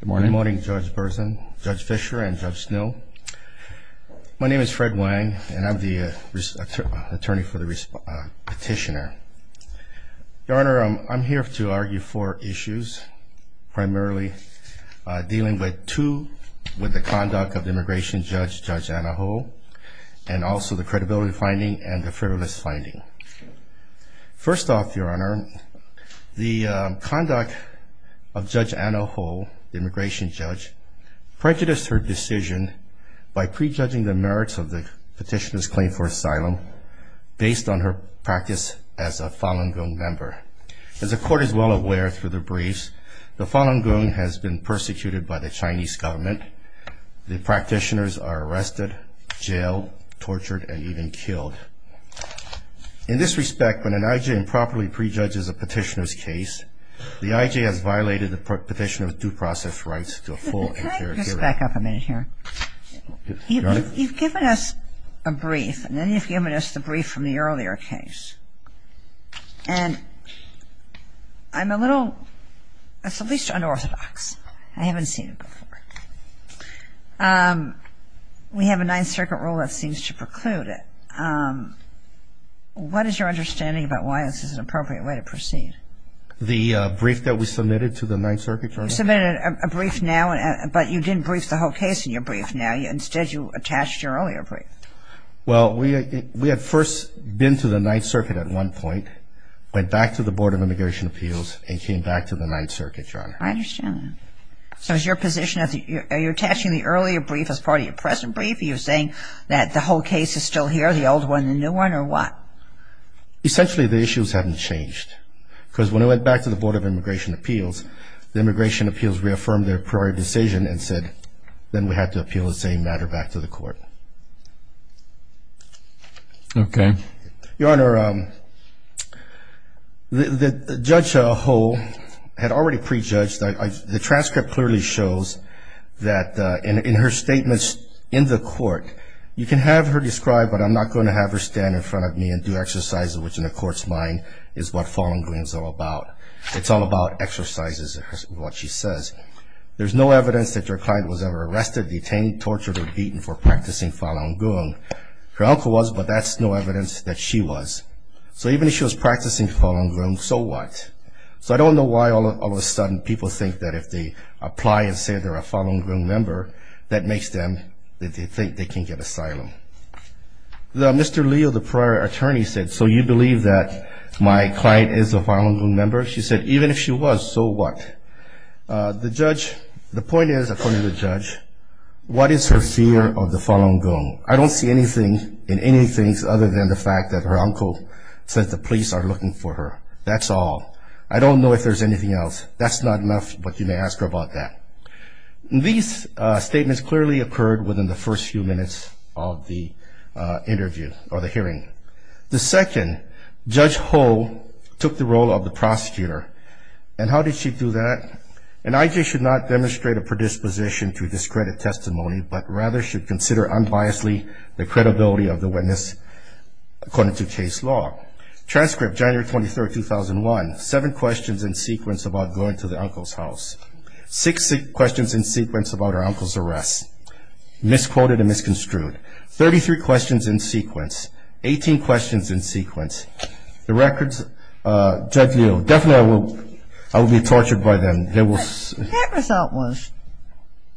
Good morning, Judge Bersin, Judge Fischer, and Judge Snow. My name is Fred Wang, and I'm the attorney for the petitioner. Your Honor, I'm here to argue four issues, primarily dealing with two, with the conduct of the immigration judge, Judge Anaholt, and also the credibility finding and the frivolous finding. First off, Your Honor, the conduct of Judge Anaholt, the immigration judge, prejudiced her decision by prejudging the merits of the petitioner's claim for asylum based on her practice as a Falun Gong member. As the Court is well aware through the briefs, the Falun Gong has been persecuted by the Chinese government. The practitioners are arrested, jailed, tortured, and even killed. In this respect, when an I.J. improperly prejudges a petitioner's case, the I.J. has violated the petitioner's due process rights to a full and fair hearing. I'm going to back up a minute here. Your Honor? You've given us a brief, and then you've given us the brief from the earlier case. And I'm a little, it's at least unorthodox. I haven't seen it before. We have a Ninth Circuit rule that seems to preclude it. What is your understanding about why this is an appropriate way to proceed? The brief that was submitted to the Ninth Circuit? You submitted a brief now, but you didn't brief the whole case in your brief now. Instead, you attached your earlier brief. Well, we had first been to the Ninth Circuit at one point, went back to the Board of Immigration Appeals, and came back to the Ninth Circuit, Your Honor. I understand that. So is your position, are you attaching the earlier brief as part of your present brief? Are you saying that the whole case is still here, the old one and the new one, or what? Essentially, the issues haven't changed. Because when I went back to the Board of Immigration Appeals, the Immigration Appeals reaffirmed their prior decision and said then we have to appeal the same matter back to the court. Okay. Your Honor, the judge a whole had already prejudged. The transcript clearly shows that in her statements in the court, you can have her describe, but I'm not going to have her stand in front of me and do exercises, which in the court's mind is what Falun Gong is all about. It's all about exercises, is what she says. There's no evidence that your client was ever arrested, detained, tortured, or beaten for practicing Falun Gong. Her uncle was, but that's no evidence that she was. So even if she was practicing Falun Gong, so what? So I don't know why all of a sudden people think that if they apply and say they're a Falun Gong member, that makes them think they can get asylum. Mr. Leo, the prior attorney, said, so you believe that my client is a Falun Gong member? She said, even if she was, so what? The judge, the point is, according to the judge, what is her fear of the Falun Gong? I don't see anything in anything other than the fact that her uncle says the police are looking for her. That's all. I don't know if there's anything else. That's not enough, but you may ask her about that. These statements clearly occurred within the first few minutes of the interview or the hearing. The second, Judge Ho took the role of the prosecutor. And how did she do that? An IJ should not demonstrate a predisposition to discredit testimony, but rather should consider unbiasedly the credibility of the witness according to case law. Transcript, January 23, 2001, seven questions in sequence about going to the uncle's house. Six questions in sequence about her uncle's arrest. Misquoted and misconstrued. Thirty-three questions in sequence. Eighteen questions in sequence. The records, Judge Leo, definitely I will be tortured by them. That result was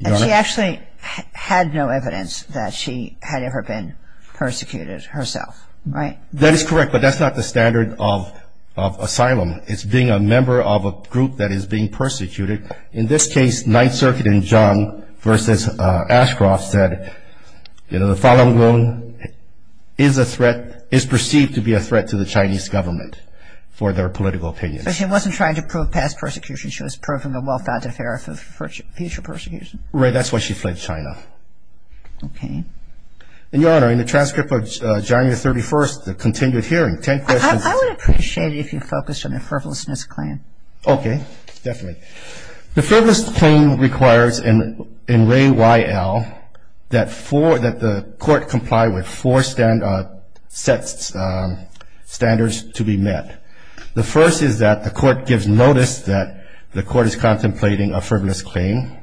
that she actually had no evidence that she had ever been persecuted herself, right? That is correct, but that's not the standard of asylum. It's being a member of a group that is being persecuted. In this case, Ninth Circuit in Jiang versus Ashcroft said, you know, the Falun Gong is perceived to be a threat to the Chinese government for their political opinions. But she wasn't trying to prove past persecution. She was proving a well-founded fear of future persecution. Right. That's why she fled China. Okay. And, Your Honor, in the transcript of January 31, the continued hearing, ten questions. I would appreciate it if you focused on the frivolousness claim. Okay. Definitely. The frivolous claim requires in Ray Y.L. that the court comply with four standards to be met. The first is that the court gives notice that the court is contemplating a frivolous claim.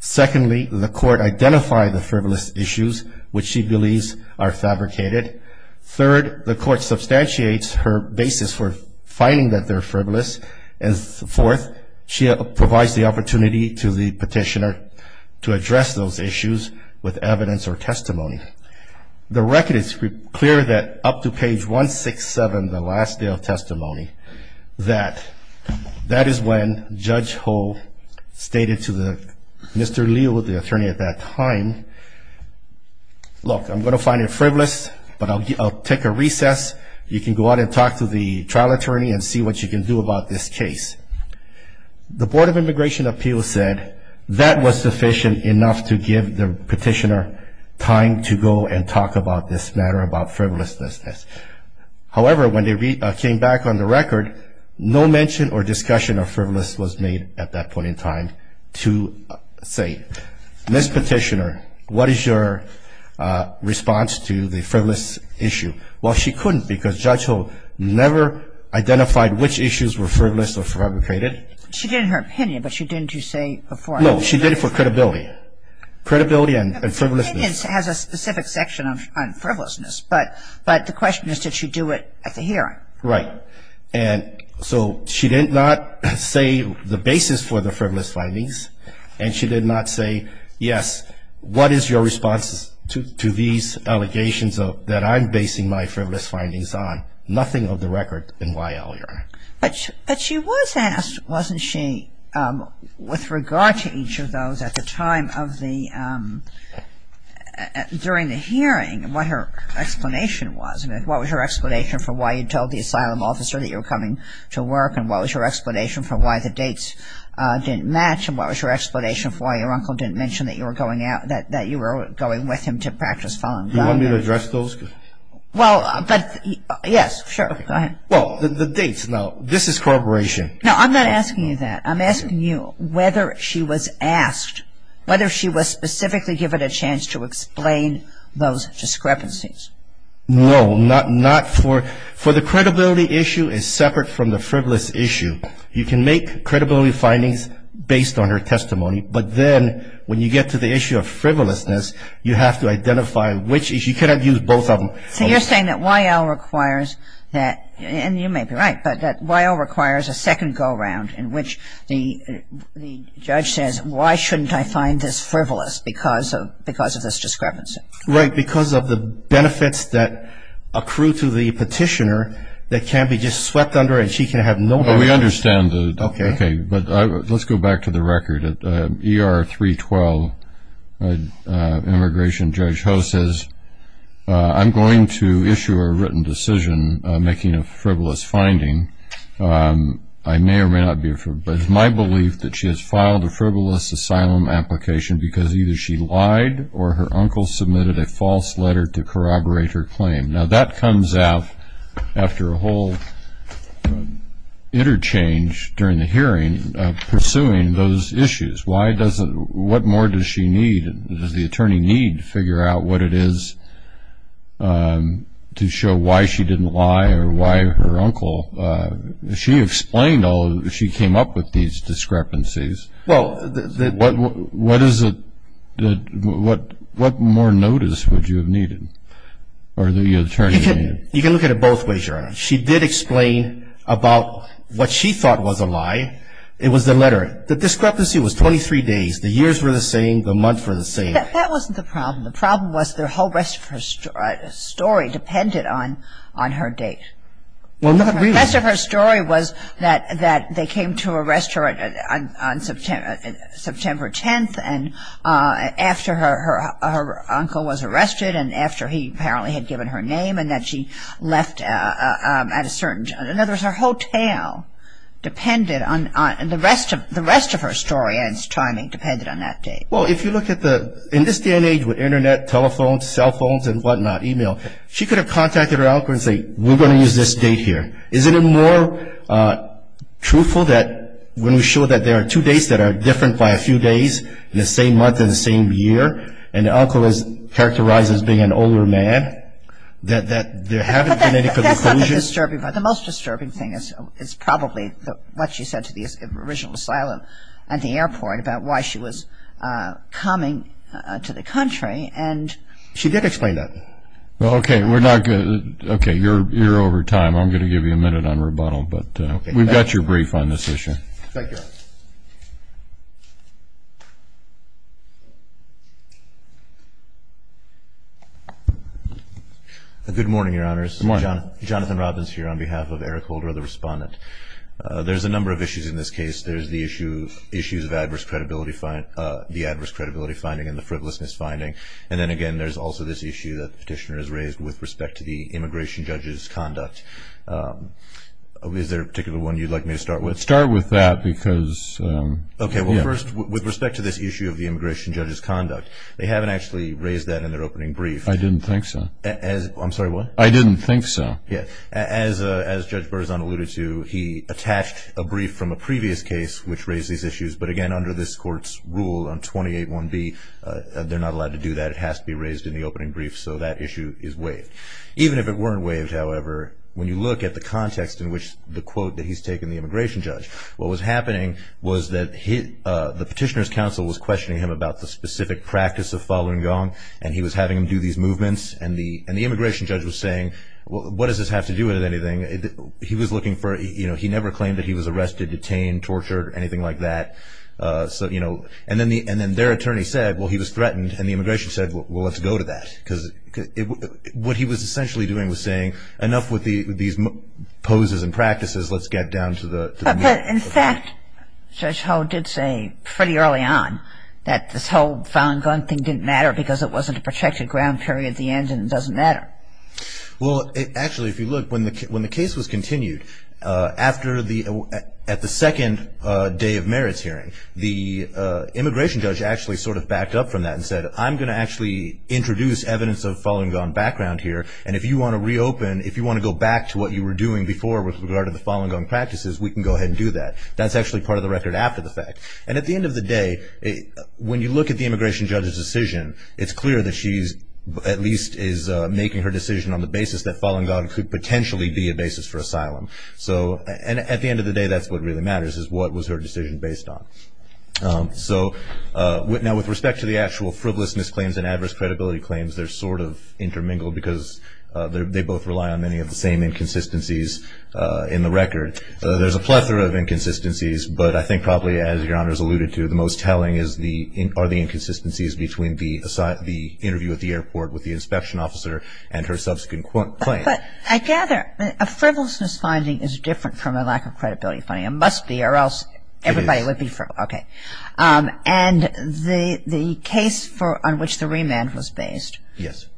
Secondly, the court identified the frivolous issues which she believes are fabricated. Third, the court substantiates her basis for finding that they're frivolous. And fourth, she provides the opportunity to the petitioner to address those issues with evidence or testimony. The record is clear that up to page 167, the last day of testimony, that that is when Judge Ho stated to Mr. Liu, the attorney at that time, look, I'm going to find it frivolous, but I'll take a recess. You can go out and talk to the trial attorney and see what you can do about this case. The Board of Immigration Appeals said that was sufficient enough to give the petitioner time to go and talk about this matter, about frivolousness. However, when they came back on the record, no mention or discussion of frivolousness was made at that point in time to say, Ms. Petitioner, what is your response to the frivolous issue? Well, she couldn't because Judge Ho never identified which issues were frivolous or fabricated. She did in her opinion, but she didn't say before. No, she did it for credibility. Credibility and frivolousness. Her opinion has a specific section on frivolousness, but the question is did she do it at the hearing? Right. And so she did not say the basis for the frivolous findings, and she did not say, yes, what is your response to these allegations that I'm basing my frivolous findings on? Nothing of the record in why, Your Honor. But she was asked, wasn't she, with regard to each of those at the time of the, during the hearing, what her explanation was. What was your explanation for why you told the asylum officer that you were coming to work, and what was your explanation for why the dates didn't match, and what was your explanation for why your uncle didn't mention that you were going out, that you were going with him to practice filing? Do you want me to address those? Well, but, yes, sure, go ahead. Well, the dates, now, this is corroboration. No, I'm not asking you that. I'm asking you whether she was asked, whether she was specifically given a chance to explain those discrepancies. No, not for, for the credibility issue is separate from the frivolous issue. You can make credibility findings based on her testimony, but then when you get to the issue of frivolousness, you have to identify which issue. You cannot use both of them. So you're saying that Y.L. requires that, and you may be right, but that Y.L. requires a second go-around in which the judge says, why shouldn't I find this frivolous because of, because of this discrepancy? Right, because of the benefits that accrue to the petitioner that can't be just swept under, and she can have nobody else. Well, we understand that. Okay. Okay, but let's go back to the record. ER 312, Immigration Judge Ho says, I'm going to issue a written decision making a frivolous finding. I may or may not be, but it's my belief that she has filed a frivolous asylum application because either she lied or her uncle submitted a false letter to corroborate her claim. Now, that comes out after a whole interchange during the hearing pursuing those issues. What more does she need? Does the attorney need to figure out what it is to show why she didn't lie or why her uncle? She explained all of it. She came up with these discrepancies. What more notice would you have needed or the attorney needed? You can look at it both ways, Your Honor. She did explain about what she thought was a lie. It was the letter. The discrepancy was 23 days. The years were the same. The months were the same. That wasn't the problem. The problem was the whole rest of her story depended on her date. Well, not really. The rest of her story was that they came to arrest her on September 10th and after her uncle was arrested and after he apparently had given her name and that she left at a certain time. In other words, her whole tale depended on the rest of her story and its timing depended on that date. Well, if you look at the ñ in this day and age with Internet, telephones, cell phones and whatnot, e-mail, she could have contacted her uncle and said, we're going to use this date here. Isn't it more truthful that when we show that there are two dates that are different by a few days in the same month and the same year and the uncle is characterized as being an older man, that there haven't been any conclusions? That's not the disturbing part. The most disturbing thing is probably what she said to the original asylum at the airport about why she was coming to the country. She did explain that. Well, okay, we're not going to ñ okay, you're over time. I'm going to give you a minute on rebuttal, but we've got your brief on this issue. Thank you. Good morning, Your Honors. Good morning. Jonathan Robbins here on behalf of Eric Holder, the respondent. There's a number of issues in this case. There's the issue of adverse credibility finding and the frivolousness finding. And then, again, there's also this issue that the petitioner has raised with respect to the immigration judge's conduct. Is there a particular one you'd like me to start with? Start with that because ñ Okay, well, first, with respect to this issue of the immigration judge's conduct, they haven't actually raised that in their opening brief. I didn't think so. I'm sorry, what? I didn't think so. Yeah. As Judge Berzon alluded to, he attached a brief from a previous case which raised these issues, but, again, under this court's rule on 28-1B, they're not allowed to do that. It has to be raised in the opening brief, so that issue is waived. Even if it weren't waived, however, when you look at the context in which the quote that he's taken the immigration judge, what was happening was that the petitioner's counsel was questioning him about the specific practice of following Gong, and he was having him do these movements. And the immigration judge was saying, well, what does this have to do with anything? He was looking for ñ he never claimed that he was arrested, detained, tortured, anything like that. And then their attorney said, well, he was threatened, and the immigration judge said, well, let's go to that. Because what he was essentially doing was saying, enough with these poses and practices, let's get down to the ñ But, in fact, Judge Ho did say pretty early on that this whole following Gong thing didn't matter because it wasn't a protected ground period at the end and it doesn't matter. Well, actually, if you look, when the case was continued, after the ñ at the second day of merits hearing, the immigration judge actually sort of backed up from that and said, I'm going to actually introduce evidence of following Gong background here, and if you want to reopen, if you want to go back to what you were doing before with regard to the following Gong practices, we can go ahead and do that. That's actually part of the record after the fact. And at the end of the day, when you look at the immigration judge's decision, it's clear that she's ñ at least is making her decision on the basis that following Gong could potentially be a basis for asylum. So ñ and at the end of the day, that's what really matters, is what was her decision based on. So ñ now, with respect to the actual frivolousness claims and adverse credibility claims, they're sort of intermingled because they both rely on many of the same inconsistencies in the record. There's a plethora of inconsistencies, but I think probably, as Your Honors alluded to, the most telling are the inconsistencies between the interview at the airport with the inspection officer and her subsequent claim. But I gather a frivolousness finding is different from a lack of credibility finding. It must be, or else everybody would be ñ It is. Okay. And the case on which the remand was based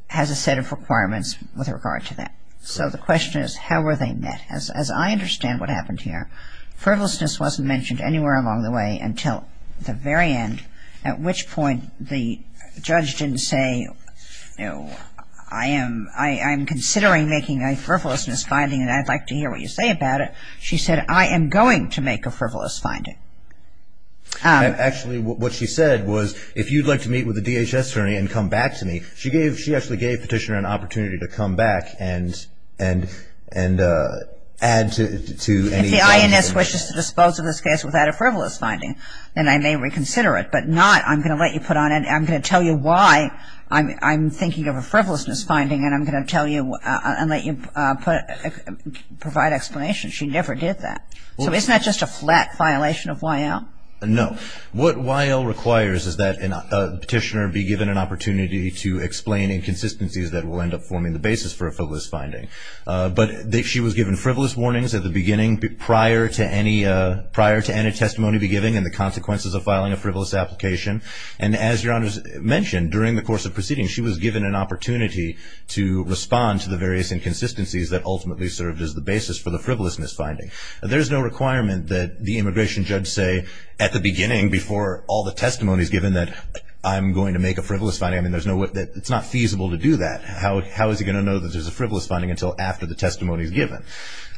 has a set of requirements with regard to that. So the question is, how were they met? As I understand what happened here, frivolousness wasn't mentioned anywhere along the way until the very end, at which point the judge didn't say, you know, I am ñ I am considering making a frivolousness finding and I'd like to hear what you say about it. She said, I am going to make a frivolous finding. Actually, what she said was, if you'd like to meet with the DHS attorney and come back to me, she actually gave Petitioner an opportunity to come back and add to any ñ If the INS wishes to dispose of this case without a frivolous finding, then I may reconsider it. But not, I'm going to let you put on ñ I'm going to tell you why I'm thinking of a frivolousness finding and I'm going to tell you ñ and let you provide explanation. She never did that. So isn't that just a flat violation of YL? No. What YL requires is that Petitioner be given an opportunity to explain inconsistencies that will end up forming the basis for a frivolous finding. But she was given frivolous warnings at the beginning prior to any ñ prior to any testimony being given and the consequences of filing a frivolous application. And as Your Honors mentioned, during the course of proceedings, she was given an opportunity to respond to the various inconsistencies that ultimately served as the basis for the frivolousness finding. There's no requirement that the immigration judge say at the beginning before all the testimonies given that I'm going to make a frivolous finding. I mean, there's no ñ it's not feasible to do that. How is he going to know that there's a frivolous finding until after the testimony is given?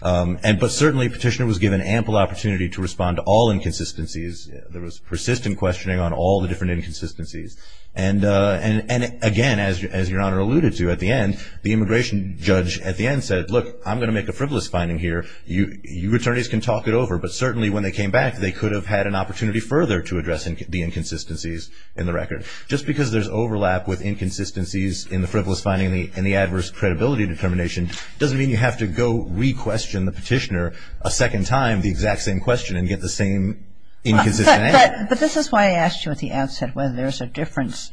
But certainly, Petitioner was given ample opportunity to respond to all inconsistencies. There was persistent questioning on all the different inconsistencies. And again, as Your Honor alluded to at the end, the immigration judge at the end said, look, I'm going to make a frivolous finding here. You attorneys can talk it over. But certainly when they came back, they could have had an opportunity further to address the inconsistencies in the record. Just because there's overlap with inconsistencies in the frivolous finding and the adverse credibility determination doesn't mean you have to go re-question the Petitioner a second time the exact same question and get the same inconsistent answer. But this is why I asked you at the outset whether there's a difference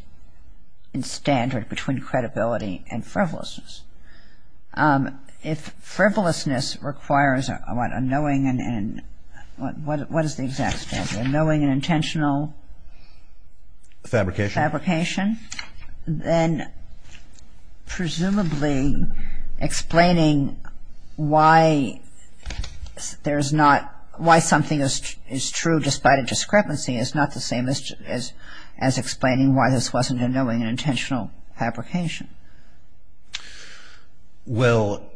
in standard between credibility and frivolousness. If frivolousness requires a knowing and an intentional fabrication, then presumably explaining why something is true despite a discrepancy is not the same as explaining why this wasn't a knowing and intentional fabrication. Well,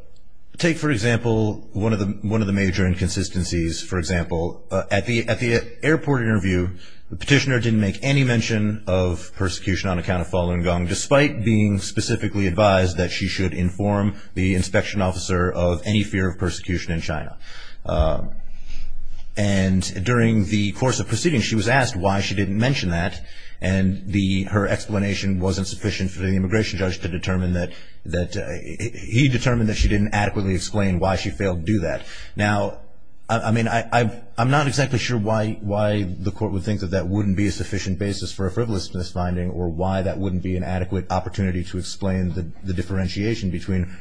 take, for example, one of the major inconsistencies. For example, at the airport interview, the Petitioner didn't make any mention of persecution on account of Falun Gong, despite being specifically advised that she should inform the inspection officer of any fear of persecution in China. And during the course of proceedings, she was asked why she didn't mention that, and her explanation wasn't sufficient for the immigration judge to determine that he determined that she didn't adequately explain why she failed to do that. Now, I mean, I'm not exactly sure why the Court would think that that wouldn't be a sufficient basis for a frivolousness finding or why that wouldn't be an adequate opportunity to explain the differentiation between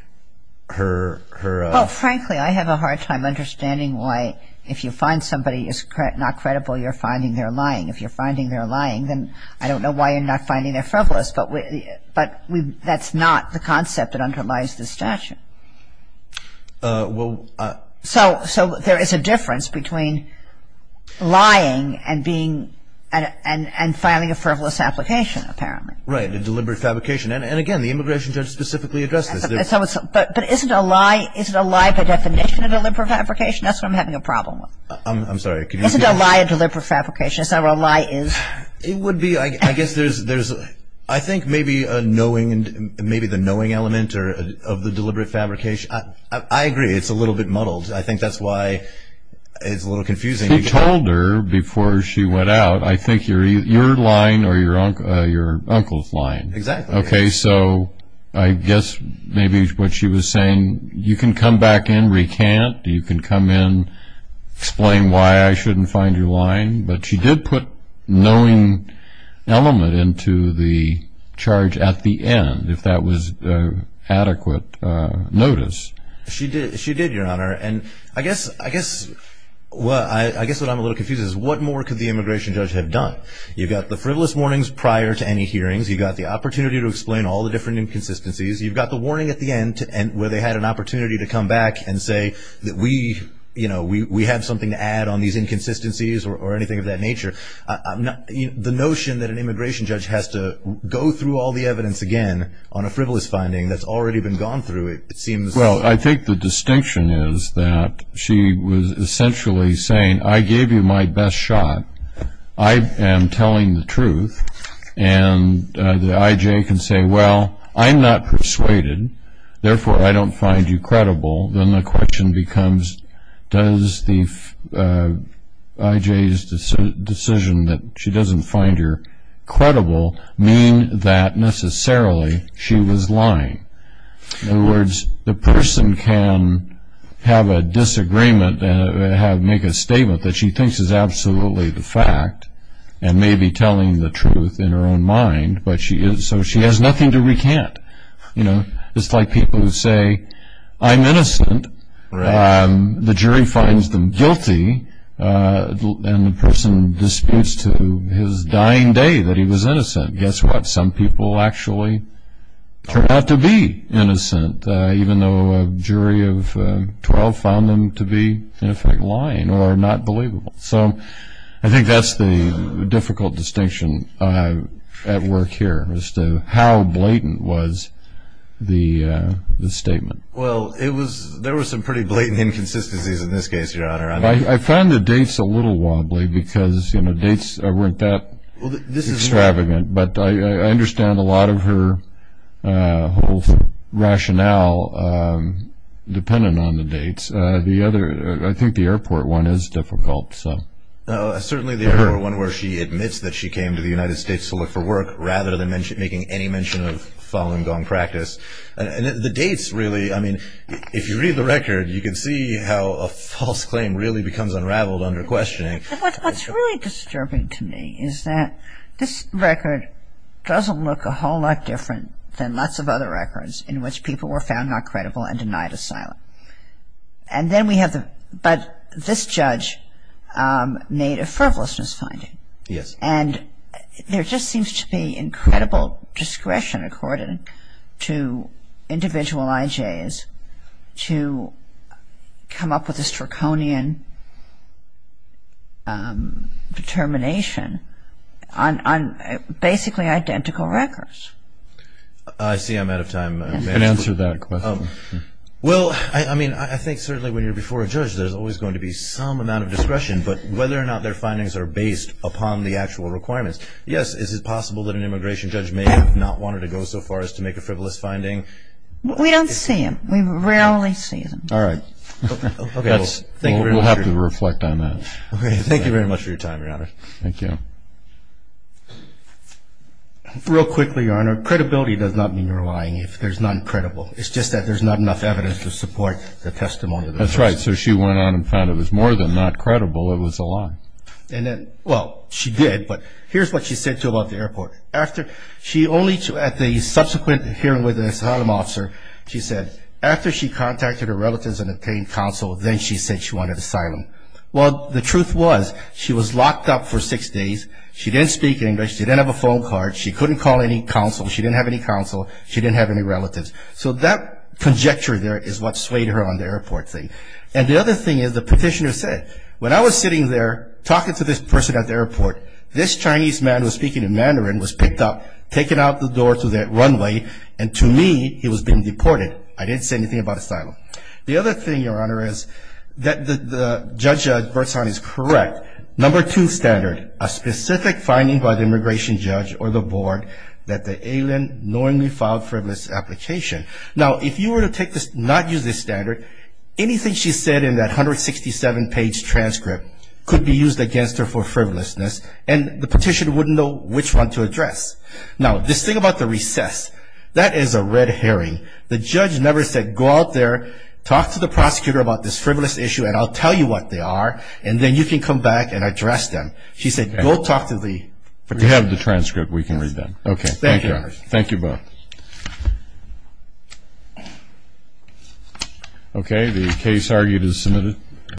her... Well, frankly, I have a hard time understanding why if you find somebody is not credible, you're finding they're lying. If you're finding they're lying, then I don't know why you're not finding they're frivolous. But that's not the concept that underlies the statute. Well... So there is a difference between lying and being and filing a frivolous application, apparently. Right, a deliberate fabrication. And, again, the immigration judge specifically addressed this. But isn't a lie by definition a deliberate fabrication? That's what I'm having a problem with. I'm sorry. Isn't a lie a deliberate fabrication? It would be. I guess there's, I think, maybe the knowing element of the deliberate fabrication. I agree. It's a little bit muddled. I think that's why it's a little confusing. He told her before she went out, I think, your line or your uncle's line. Exactly. Okay, so I guess maybe what she was saying, you can come back in, recant. You can come in, explain why I shouldn't find you lying. But she did put knowing element into the charge at the end, if that was adequate notice. She did, Your Honor. And I guess what I'm a little confused is what more could the immigration judge have done? You've got the frivolous warnings prior to any hearings. You've got the opportunity to explain all the different inconsistencies. You've got the warning at the end where they had an opportunity to come back and say that we have something to add on these inconsistencies or anything of that nature. The notion that an immigration judge has to go through all the evidence again on a frivolous finding that's already been gone through, it seems. Well, I think the distinction is that she was essentially saying, I gave you my best shot, I am telling the truth, and the I.J. can say, well, I'm not persuaded, therefore I don't find you credible. Then the question becomes, does the I.J.'s decision that she doesn't find you credible mean that necessarily she was lying? In other words, the person can have a disagreement and make a statement that she thinks is absolutely the fact and may be telling the truth in her own mind, so she has nothing to recant. It's like people who say, I'm innocent, the jury finds them guilty, and the person disputes to his dying day that he was innocent. Guess what? Some people actually turn out to be innocent, even though a jury of 12 found them to be, in effect, lying or not believable. So I think that's the difficult distinction at work here as to how blatant was the statement. Well, there were some pretty blatant inconsistencies in this case, Your Honor. I found the dates a little wobbly because dates weren't that extravagant, but I understand a lot of her whole rationale dependent on the dates. I think the airport one is difficult. Certainly the airport one where she admits that she came to the United States to look for work rather than making any mention of following gone practice. The dates really, I mean, if you read the record, you can see how a false claim really becomes unraveled under questioning. What's really disturbing to me is that this record doesn't look a whole lot different than lots of other records in which people were found not credible and denied asylum. And then we have the, but this judge made a frivolous misfinding. Yes. And there just seems to be incredible discretion according to individual IJs to come up with a straconian determination on basically identical records. I see I'm out of time. You can answer that question. Well, I mean, I think certainly when you're before a judge, there's always going to be some amount of discretion, but whether or not their findings are based upon the actual requirements. Yes, is it possible that an immigration judge may have not wanted to go so far as to make a frivolous finding? We don't see them. We rarely see them. All right. We'll have to reflect on that. Okay. Thank you very much for your time, Your Honor. Thank you. Real quickly, Your Honor, credibility does not mean you're lying if there's none credible. It's just that there's not enough evidence to support the testimony. That's right. So she went on and found it was more than not credible, it was a lie. And then, well, she did, but here's what she said to him at the airport. At the subsequent hearing with the asylum officer, she said, after she contacted her relatives and obtained counsel, then she said she wanted asylum. Well, the truth was she was locked up for six days. She didn't speak English. She didn't have a phone card. She couldn't call any counsel. She didn't have any counsel. She didn't have any relatives. So that conjecture there is what swayed her on the airport thing. And the other thing is the petitioner said, when I was sitting there talking to this person at the airport, this Chinese man who was speaking in Mandarin was picked up, taken out the door to the runway, and to me, he was being deported. I didn't say anything about asylum. The other thing, Your Honor, is that the judge at Birdstown is correct. Number two standard, a specific finding by the immigration judge or the board that the alien knowingly filed frivolous application. Now, if you were to not use this standard, anything she said in that 167-page transcript could be used against her for frivolousness, and the petitioner wouldn't know which one to address. Now, this thing about the recess, that is a red herring. The judge never said, go out there, talk to the prosecutor about this frivolous issue, and I'll tell you what they are, and then you can come back and address them. She said, go talk to the prosecutor. We have the transcript. We can read that. Okay. Thank you. Thank you both. Okay. The case argued is submitted.